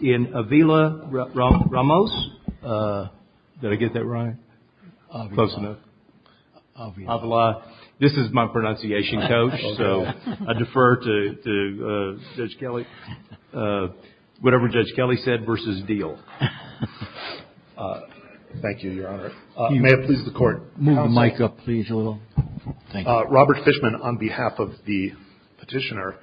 in Avila-Ramos, did I get that right, close enough, Avila, this is my pronunciation coach, so I defer to Judge Kelly. Whatever Judge Kelly said versus Deal. Thank you, Your Honor. May it please the Court. Move the mic up, please, a little. Robert Fishman on behalf of the petitioner.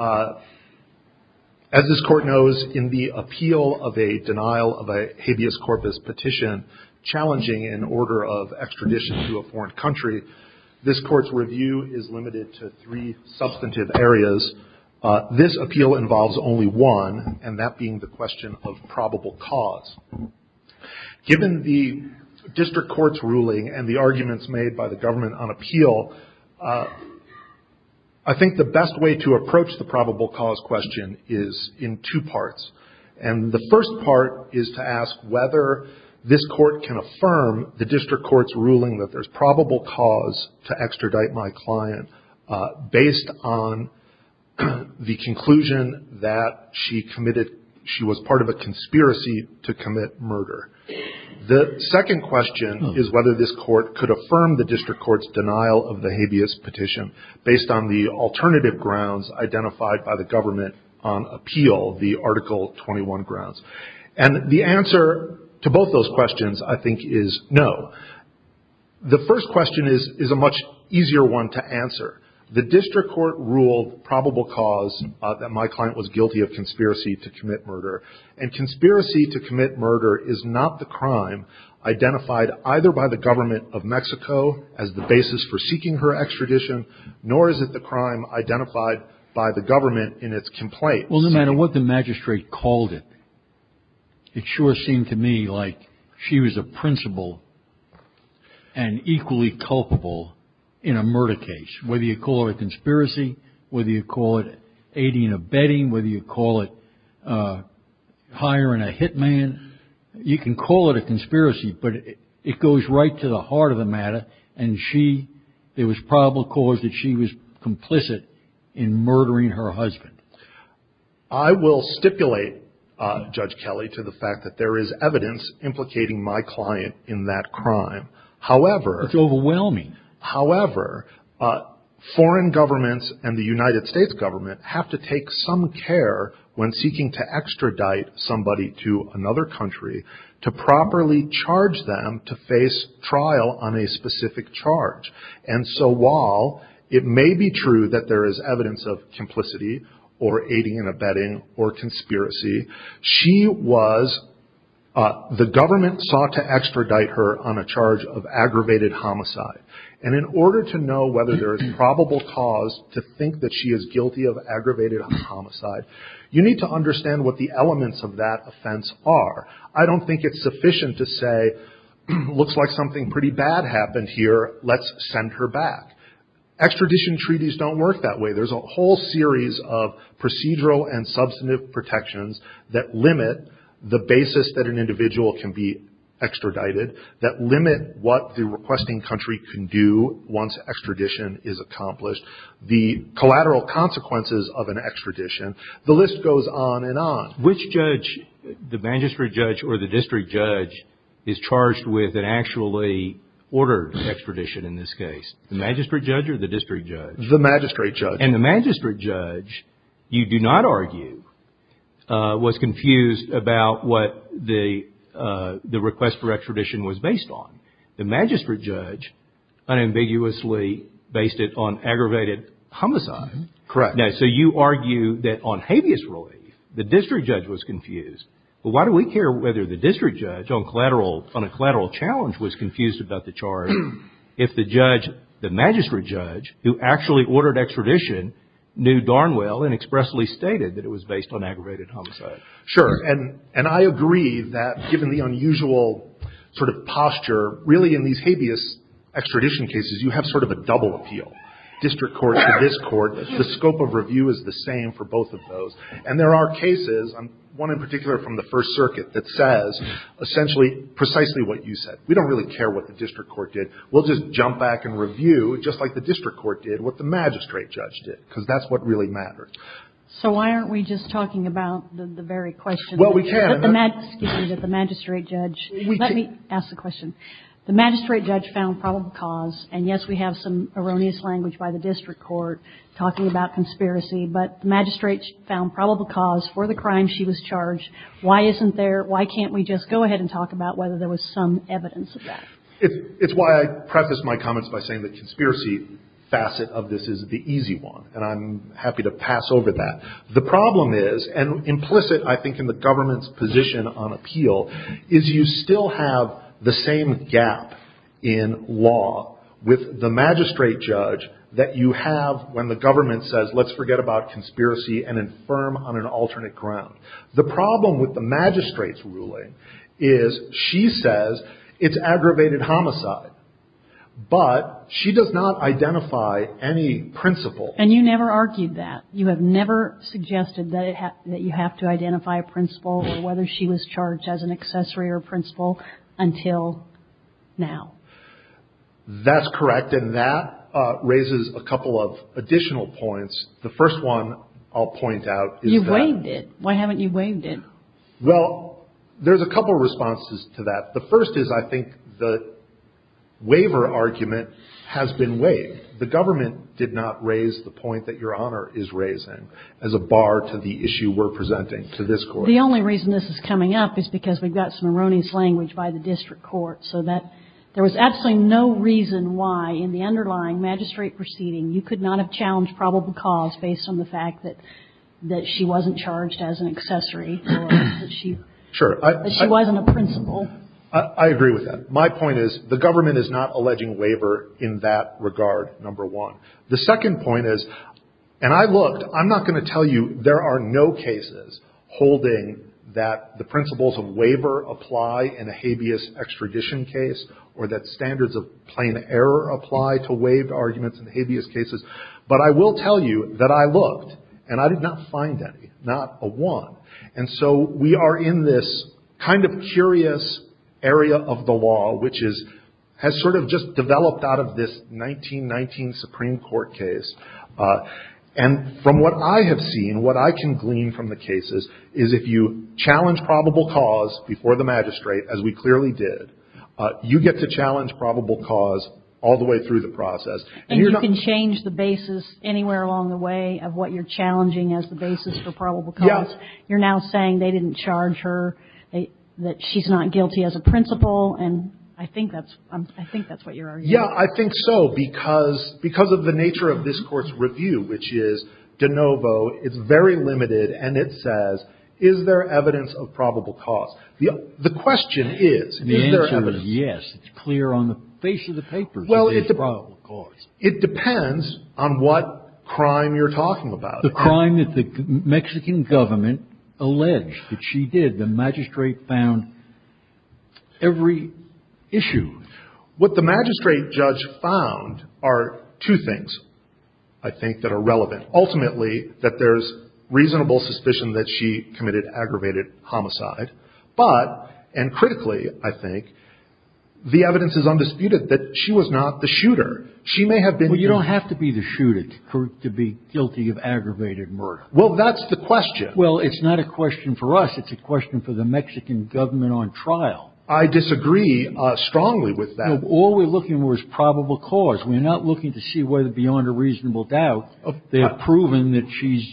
As this Court knows, in the appeal of a denial of a habeas corpus petition, challenging an order of extradition to a foreign country, this Court's review is limited to three substantive areas. This appeal involves only one, and that being the question of probable cause. Given the district court's ruling and the arguments made by the government on appeal, I think the best way to approach the probable cause question is in two parts. And the first part is to ask whether this Court can affirm the district court's ruling that there's probable cause to extradite my client, based on the conclusion that she was part of a conspiracy to commit murder. The second question is whether this Court could affirm the district court's denial of the habeas petition based on the alternative grounds identified by the government on appeal, the Article 21 grounds. And the answer to both those questions, I think, is no. The first question is a much easier one to answer. The district court ruled probable cause that my client was guilty of conspiracy to commit murder. And conspiracy to commit murder is not the crime identified either by the government of Mexico as the basis for seeking her extradition, nor is it the crime identified by the government in its complaint. Well, no matter what the magistrate called it, it sure seemed to me like she was a principal and equally culpable in a murder case, whether you call it a conspiracy, whether you call it aiding or abetting, whether you call it hiring a hitman. You can call it a conspiracy, but it goes right to the heart of the matter. And she, there was probable cause that she was complicit in murdering her husband. I will stipulate, Judge Kelly, to the fact that there is evidence implicating my client in that crime. However... It's overwhelming. However, foreign governments and the United States government have to take some care when seeking to extradite somebody to another country to properly charge them to face trial on a specific charge. And so while it may be true that there is evidence of complicity or aiding and abetting or conspiracy, she was, the government sought to extradite her on a charge of aggravated homicide. And in order to know whether there is probable cause to think that she is guilty of aggravated homicide, you need to understand what the elements of that offense are. I don't think it's sufficient to say, looks like something pretty bad happened here, let's send her back. Extradition treaties don't work that way. There's a whole series of procedural and substantive protections that limit the basis that an individual can be extradited, that limit what the requesting country can do once extradition is accomplished, the collateral consequences of an extradition. The list goes on and on. Which judge, the magistrate judge or the district judge, is charged with an actually ordered extradition in this case? The magistrate judge or the district judge? The magistrate judge. And the magistrate judge, you do not argue, was confused about what the request for extradition was based on. The magistrate judge unambiguously based it on aggravated homicide. Correct. Now, so you argue that on habeas relief, the district judge was confused. But why do we care whether the district judge on a collateral challenge was confused about the charge if the judge, the magistrate judge, who actually ordered extradition, knew darn well and expressly stated that it was based on aggravated homicide? Sure. And I agree that given the unusual sort of posture, really in these habeas extradition cases you have sort of a double appeal. District court to this court, the scope of review is the same for both of those. And there are cases, one in particular from the First Circuit, that says essentially precisely what you said. We don't really care what the district court did. We'll just jump back and review, just like the district court did, what the magistrate judge did. Because that's what really mattered. So why aren't we just talking about the very question? Well, we can. Excuse me. The magistrate judge. Let me ask the question. The magistrate judge found probable cause. And yes, we have some erroneous language by the district court talking about conspiracy. But the magistrate found probable cause for the crime she was charged. Why isn't there? Why can't we just go ahead and talk about whether there was some evidence of that? It's why I preface my comments by saying that conspiracy facet of this is the easy one. And I'm happy to pass over that. The problem is, and implicit I think in the government's position on appeal, is you still have the same gap in law with the magistrate judge that you have when the government says, let's forget about conspiracy and infirm on an alternate ground. The problem with the magistrate's ruling is she says it's aggravated homicide. But she does not identify any principle. And you never argued that. You have never suggested that you have to identify a principle or whether she was charged as an accessory or principle until now. That's correct. And that raises a couple of additional points. The first one I'll point out is that. You've waived it. Why haven't you waived it? Well, there's a couple of responses to that. The first is I think the waiver argument has been waived. And the government did not raise the point that Your Honor is raising as a bar to the issue we're presenting to this Court. The only reason this is coming up is because we've got some erroneous language by the district court. So that there was absolutely no reason why in the underlying magistrate proceeding you could not have challenged probable cause based on the fact that she wasn't charged as an accessory or that she wasn't a principle. I agree with that. My point is the government is not alleging waiver in that regard, number one. The second point is, and I looked. I'm not going to tell you there are no cases holding that the principles of waiver apply in a habeas extradition case or that standards of plain error apply to waived arguments in habeas cases. But I will tell you that I looked and I did not find any. Not a one. And so we are in this kind of curious area of the law which has sort of just developed out of this 1919 Supreme Court case. And from what I have seen, what I can glean from the cases is if you challenge probable cause before the magistrate, as we clearly did, you get to challenge probable cause all the way through the process. And you can change the basis anywhere along the way of what you're challenging as the basis for probable cause. You're now saying they didn't charge her, that she's not guilty as a principle. And I think that's what you're arguing. Yeah, I think so, because of the nature of this Court's review, which is de novo. It's very limited. And it says, is there evidence of probable cause? The question is, is there evidence? And the answer is yes. It's clear on the face of the paper that there's probable cause. Well, it depends on what crime you're talking about. The crime that the Mexican government alleged that she did. The magistrate found every issue. What the magistrate judge found are two things, I think, that are relevant. Ultimately, that there's reasonable suspicion that she committed aggravated homicide. But, and critically, I think, the evidence is undisputed that she was not the shooter. Well, you don't have to be the shooter to be guilty of aggravated murder. Well, that's the question. Well, it's not a question for us. It's a question for the Mexican government on trial. I disagree strongly with that. No, all we're looking for is probable cause. We're not looking to see whether beyond a reasonable doubt they have proven that she's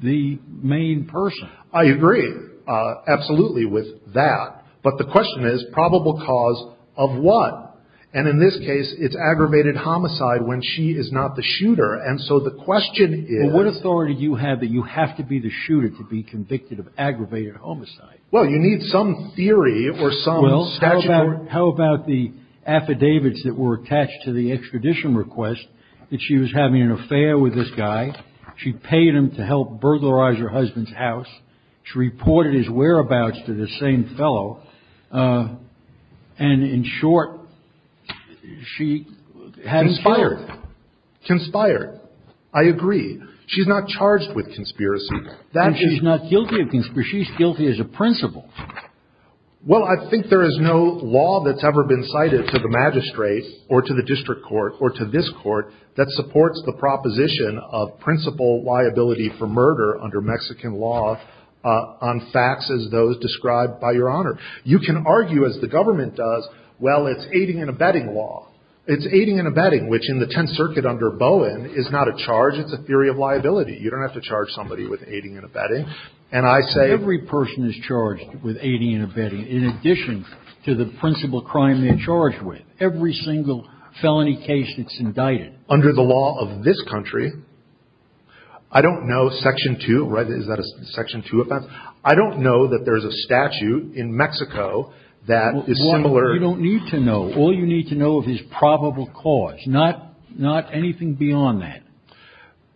the main person. I agree absolutely with that. But the question is, probable cause of what? And in this case, it's aggravated homicide when she is not the shooter. And so the question is. Well, what authority do you have that you have to be the shooter to be convicted of aggravated homicide? Well, you need some theory or some statute. Well, how about the affidavits that were attached to the extradition request that she was having an affair with this guy? She paid him to help burglarize her husband's house. She reported his whereabouts to the same fellow. And in short, she hadn't killed him. Conspired. Conspired. I agree. She's not charged with conspiracy. And she's not guilty of conspiracy. She's guilty as a principal. Well, I think there is no law that's ever been cited to the magistrate or to the district court or to this court that supports the proposition of principal liability for murder under Mexican law on facts as those described by Your Honor. You can argue, as the government does, well, it's aiding and abetting law. It's aiding and abetting, which in the Tenth Circuit under Bowen is not a charge. It's a theory of liability. You don't have to charge somebody with aiding and abetting. And I say. Every person is charged with aiding and abetting in addition to the principal crime they're charged with. Every single felony case that's indicted. Under the law of this country, I don't know Section 2. Is that a Section 2 offense? I don't know that there's a statute in Mexico that is similar. You don't need to know. All you need to know is probable cause, not anything beyond that.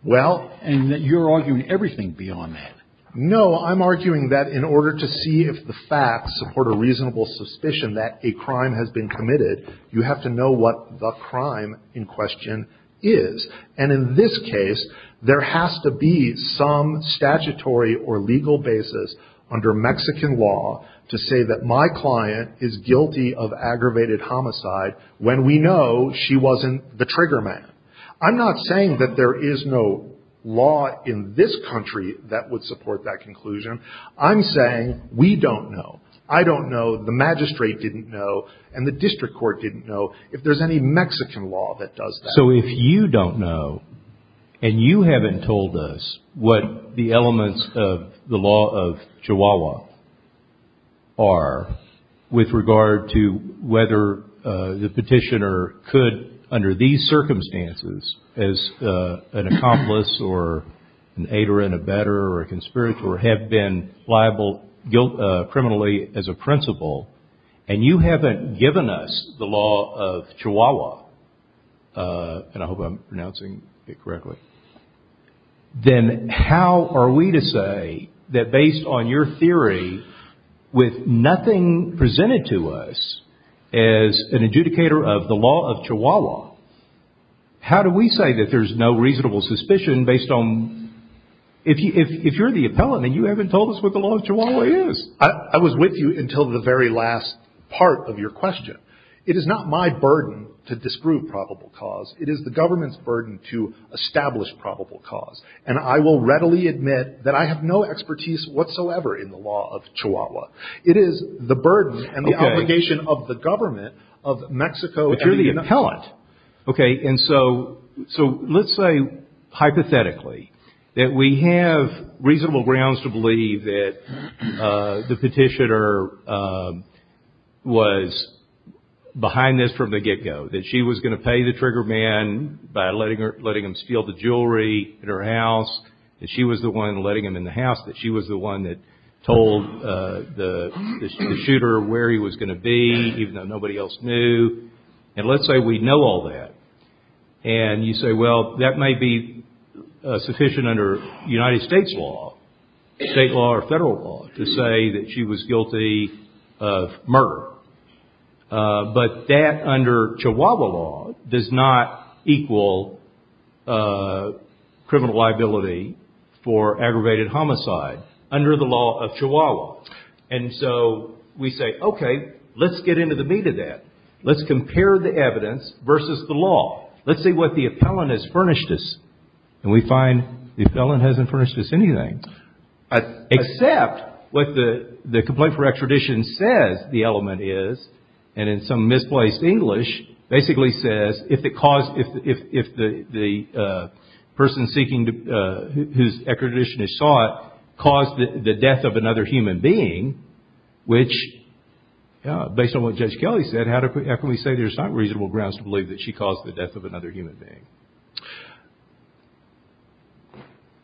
Well. And you're arguing everything beyond that. No, I'm arguing that in order to see if the facts support a reasonable suspicion that a crime has been committed, you have to know what the crime in question is. And in this case, there has to be some statutory or legal basis under Mexican law to say that my client is guilty of aggravated homicide when we know she wasn't the trigger man. I'm not saying that there is no law in this country that would support that conclusion. I'm saying we don't know. I don't know. The magistrate didn't know. And the district court didn't know if there's any Mexican law that does that. If you don't know, and you haven't told us what the elements of the law of Chihuahua are with regard to whether the petitioner could, under these circumstances, as an accomplice or an aider and abetter or a conspirator, have been liable criminally as a principal, and you haven't given us the law of Chihuahua, and I hope I'm pronouncing it correctly, then how are we to say that based on your theory, with nothing presented to us as an adjudicator of the law of Chihuahua, how do we say that there's no reasonable suspicion based on, if you're the appellant and you haven't told us what the law of Chihuahua is? I was with you until the very last part of your question. It is not my burden to disprove probable cause. It is the government's burden to establish probable cause. And I will readily admit that I have no expertise whatsoever in the law of Chihuahua. It is the burden and the obligation of the government of Mexico and the United States. And so let's say, hypothetically, that we have reasonable grounds to believe that the petitioner was behind this from the get-go, that she was going to pay the trigger man by letting him steal the jewelry at her house, that she was the one letting him in the house, that she was the one that told the shooter where he was going to be, even though nobody else knew. And let's say we know all that. And you say, well, that may be sufficient under United States law, state law or federal law, to say that she was guilty of murder. But that, under Chihuahua law, does not equal criminal liability for aggravated homicide under the law of Chihuahua. And so we say, okay, let's get into the meat of that. Let's compare the evidence versus the law. Let's see what the appellant has furnished us. And we find the appellant hasn't furnished us anything. Except what the complaint for extradition says the element is, and in some misplaced English, basically says if the person seeking whose extradition is sought caused the death of another human being, which based on what Judge Kelly said, how can we say there's not reasonable grounds to believe that she caused the death of another human being?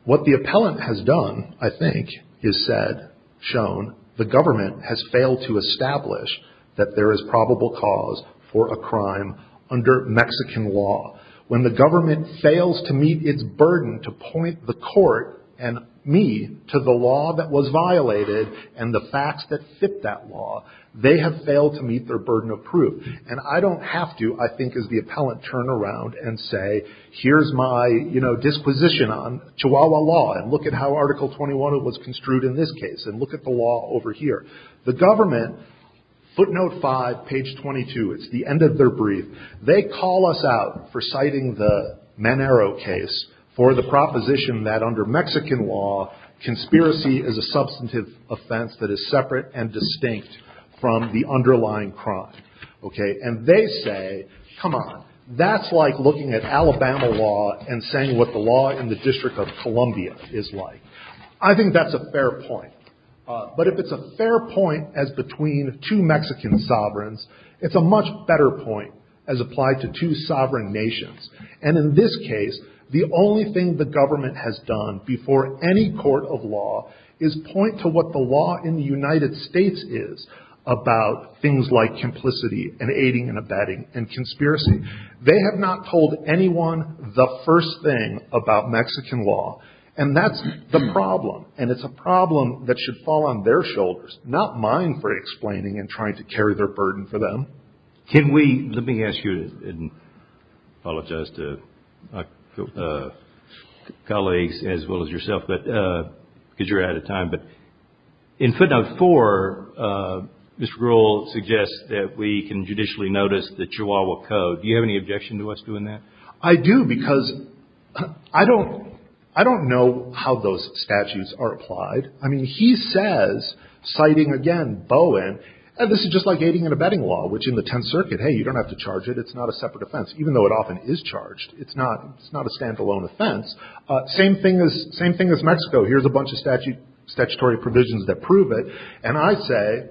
What the appellant has done, I think, is said, shown, the government has failed to establish that there is probable cause for a crime under Mexican law. When the government fails to meet its burden to point the court and me to the law that was violated and the facts that fit that law, they have failed to meet their burden of proof. And I don't have to, I think, as the appellant, turn around and say, here's my disposition on Chihuahua law, and look at how Article 21 was construed in this case, and look at the law over here. The government, footnote 5, page 22, it's the end of their brief, they call us out for citing the Manero case for the proposition that under Mexican law, conspiracy is a substantive offense that is separate and distinct from the underlying crime. And they say, come on, that's like looking at Alabama law and saying what the law in the District of Columbia is like. I think that's a fair point. But if it's a fair point as between two Mexican sovereigns, it's a much better point as applied to two sovereign nations. And in this case, the only thing the government has done before any court of law is point to what the law in the United States is about things like complicity and aiding and abetting and conspiracy. They have not told anyone the first thing about Mexican law. And that's the problem. And it's a problem that should fall on their shoulders, not mine for explaining and trying to carry their burden for them. Let me ask you, and I apologize to colleagues as well as yourself, because you're out of time, but in footnote 4, this rule suggests that we can judicially notice the Chihuahua Code. Do you have any objection to us doing that? I do, because I don't know how those statutes are applied. I mean, he says, citing again Bowen, and this is just like aiding and abetting law, which in the Tenth Circuit, hey, you don't have to charge it. It's not a separate offense, even though it often is charged. It's not a standalone offense. Same thing as Mexico. Here's a bunch of statutory provisions that prove it. And I say,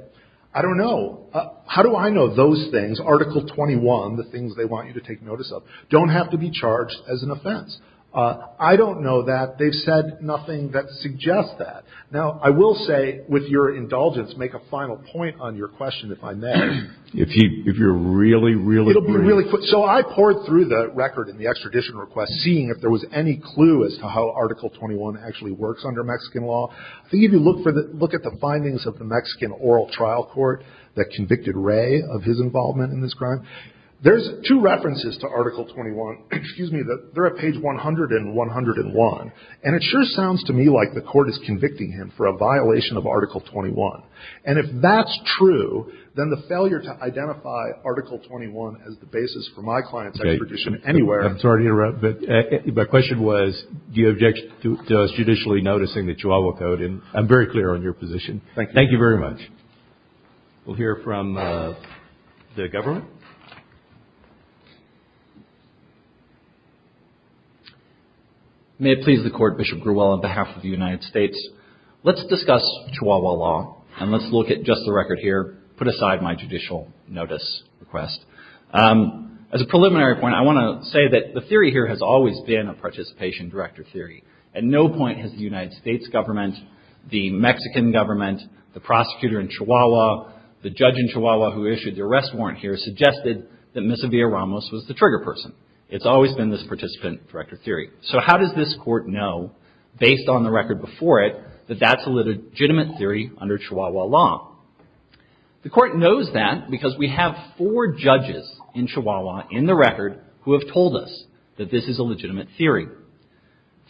I don't know. How do I know those things, Article 21, the things they want you to take notice of, don't have to be charged as an offense? I don't know that. They've said nothing that suggests that. Now, I will say, with your indulgence, make a final point on your question, if I may. If you're really, really brief. So I poured through the record in the extradition request, seeing if there was any clue as to how Article 21 actually works under Mexican law. I think if you look at the findings of the Mexican Oral Trial Court that convicted Ray of his involvement in this crime, there's two references to Article 21. Excuse me. They're at page 100 and 101. And it sure sounds to me like the Court is convicting him for a violation of Article 21. And if that's true, then the failure to identify Article 21 as the basis for my client's extradition anywhere. I'm sorry to interrupt. But my question was, do you object to us judicially noticing the Chihuahua Code? And I'm very clear on your position. Thank you. Thank you very much. We'll hear from the government. May it please the Court, Bishop Grewell, on behalf of the United States, let's discuss Chihuahua law. And let's look at just the record here. Put aside my judicial notice request. As a preliminary point, I want to say that the theory here has always been a participation director theory. At no point has the United States government, the Mexican government, the prosecutor in Chihuahua, the judge in Chihuahua who issued the arrest warrant here, suggested that Misa Villaramos was the trigger person. It's always been this participant director theory. So how does this Court know, based on the record before it, that that's a legitimate theory under Chihuahua law? The Court knows that because we have four judges in Chihuahua in the record who have told us that this is a legitimate theory.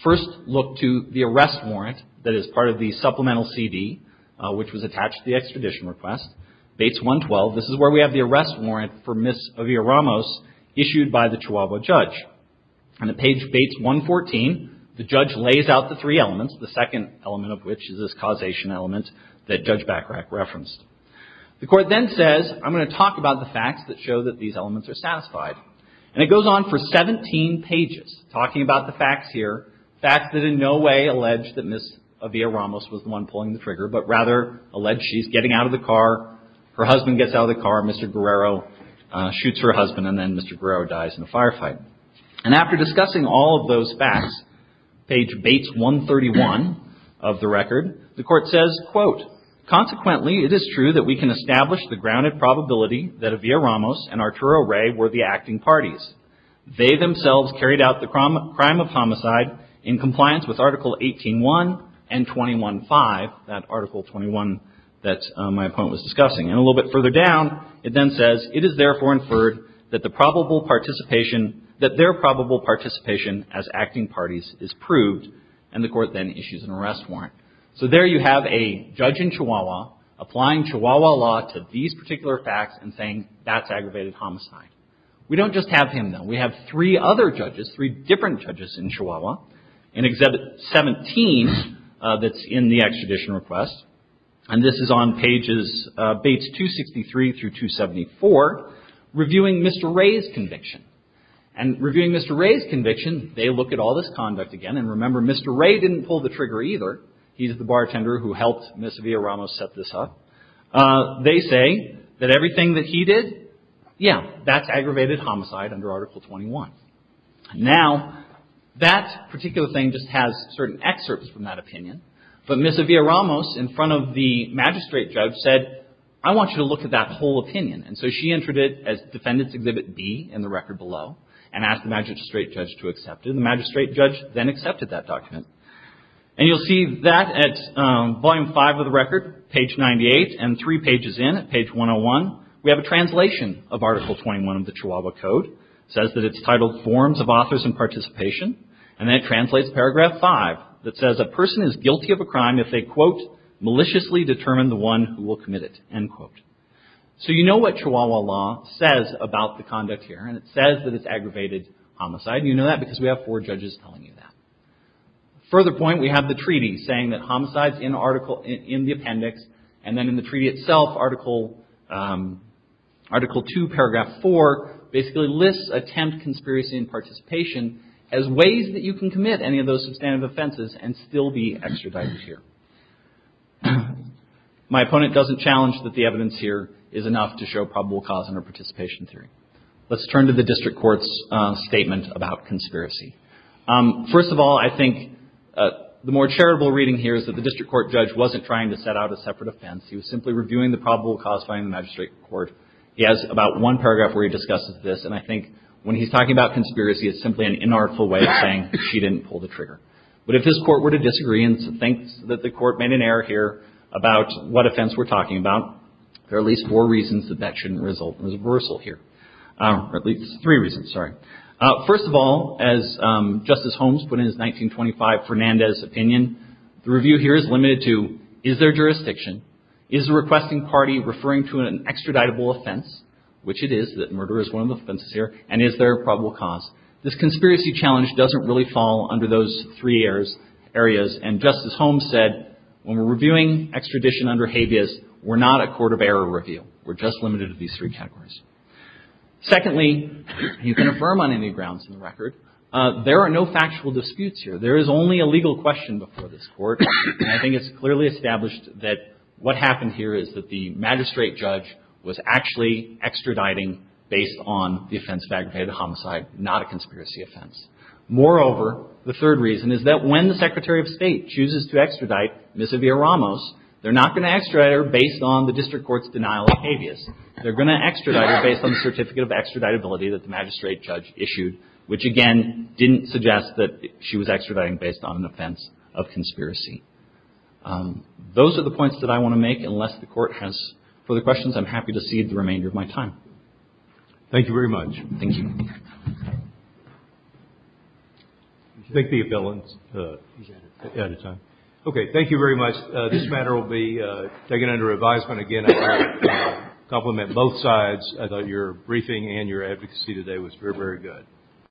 First, look to the arrest warrant that is part of the supplemental CD, which was attached to the extradition request, Bates 112. This is where we have the arrest warrant for Misa Villaramos issued by the Chihuahua judge. On the page Bates 114, the judge lays out the three elements, the second element of which is this causation element that Judge Bachrach referenced. The Court then says, I'm going to talk about the facts that show that these elements are satisfied. And it goes on for 17 pages, talking about the facts here, facts that in no way allege that Misa Villaramos was the one pulling the trigger, but rather allege she's getting out of the car, her husband gets out of the car, Mr. Guerrero shoots her husband, and then Mr. Guerrero dies in a firefight. And after discussing all of those facts, page Bates 131 of the record, the Court says, quote, Consequently, it is true that we can establish the grounded probability that Villaramos and Arturo Ray were the acting parties. They themselves carried out the crime of homicide in compliance with Article 18.1 and 21.5, that Article 21 that my opponent was discussing. And a little bit further down, it then says, it is therefore inferred that the probable participation, that their probable participation as acting parties is proved. And the Court then issues an arrest warrant. So there you have a judge in Chihuahua applying Chihuahua law to these particular facts and saying that's aggravated homicide. We don't just have him, though. We have three other judges, three different judges in Chihuahua, in Exhibit 17 that's in the extradition request. And this is on pages Bates 263 through 274, reviewing Mr. Ray's conviction. And reviewing Mr. Ray's conviction, they look at all this conduct again. And remember, Mr. Ray didn't pull the trigger either. He's the bartender who helped Ms. Villaramos set this up. They say that everything that he did, yeah, that's aggravated homicide under Article 21. Now, that particular thing just has certain excerpts from that opinion. But Ms. Villaramos, in front of the magistrate judge, said, I want you to look at that whole opinion. And so she entered it as Defendant's Exhibit B in the record below and asked the magistrate judge to accept it. And the magistrate judge then accepted that document. And you'll see that at Volume 5 of the record, page 98, and three pages in at page 101, we have a translation of Article 21 of the Chihuahua Code. It says that it's titled Forms of Authors and Participation. And then it translates Paragraph 5 that says, A person is guilty of a crime if they, quote, maliciously determine the one who will commit it, end quote. So you know what Chihuahua law says about the conduct here. And it says that it's aggravated homicide. And you know that because we have four judges telling you that. Further point, we have the treaty saying that homicides in the appendix, and then in the treaty itself, Article 2, Paragraph 4, basically lists attempt, conspiracy, and participation as ways that you can commit any of those substantive offenses and still be extradited here. My opponent doesn't challenge that the evidence here is enough to show probable cause under participation theory. Let's turn to the district court's statement about conspiracy. First of all, I think the more charitable reading here is that the district court judge wasn't trying to set out a separate offense. He was simply reviewing the probable cause by the magistrate court. He has about one paragraph where he discusses this. And I think when he's talking about conspiracy, it's simply an inartful way of saying she didn't pull the trigger. But if his court were to disagree and think that the court made an error here about what offense we're talking about, there are at least four reasons that that shouldn't result in reversal here. Or at least three reasons, sorry. First of all, as Justice Holmes put in his 1925 Fernandez opinion, the review here is limited to, is there jurisdiction, is the requesting party referring to an extraditable offense, which it is, that murder is one of the offenses here, and is there a probable cause? This conspiracy challenge doesn't really fall under those three areas. And Justice Holmes said, when we're reviewing extradition under habeas, we're not a court of error review. We're just limited to these three categories. Secondly, you can affirm on any grounds in the record, there are no factual disputes here. There is only a legal question before this Court. And I think it's clearly established that what happened here is that the magistrate judge was actually extraditing based on the offense of aggravated homicide, not a conspiracy offense. Moreover, the third reason is that when the Secretary of State chooses to extradite Ms. Avila Ramos, they're not going to extradite her based on the district court's denial of habeas. They're going to extradite her based on the certificate of extraditability that the magistrate judge issued, which again didn't suggest that she was extraditing based on an offense of conspiracy. Those are the points that I want to make. Unless the Court has further questions, I'm happy to cede the remainder of my time. Thank you very much. Thank you. Thank you very much. This matter will be taken under advisement again. I have to compliment both sides. I thought your briefing and your advocacy today was very, very good.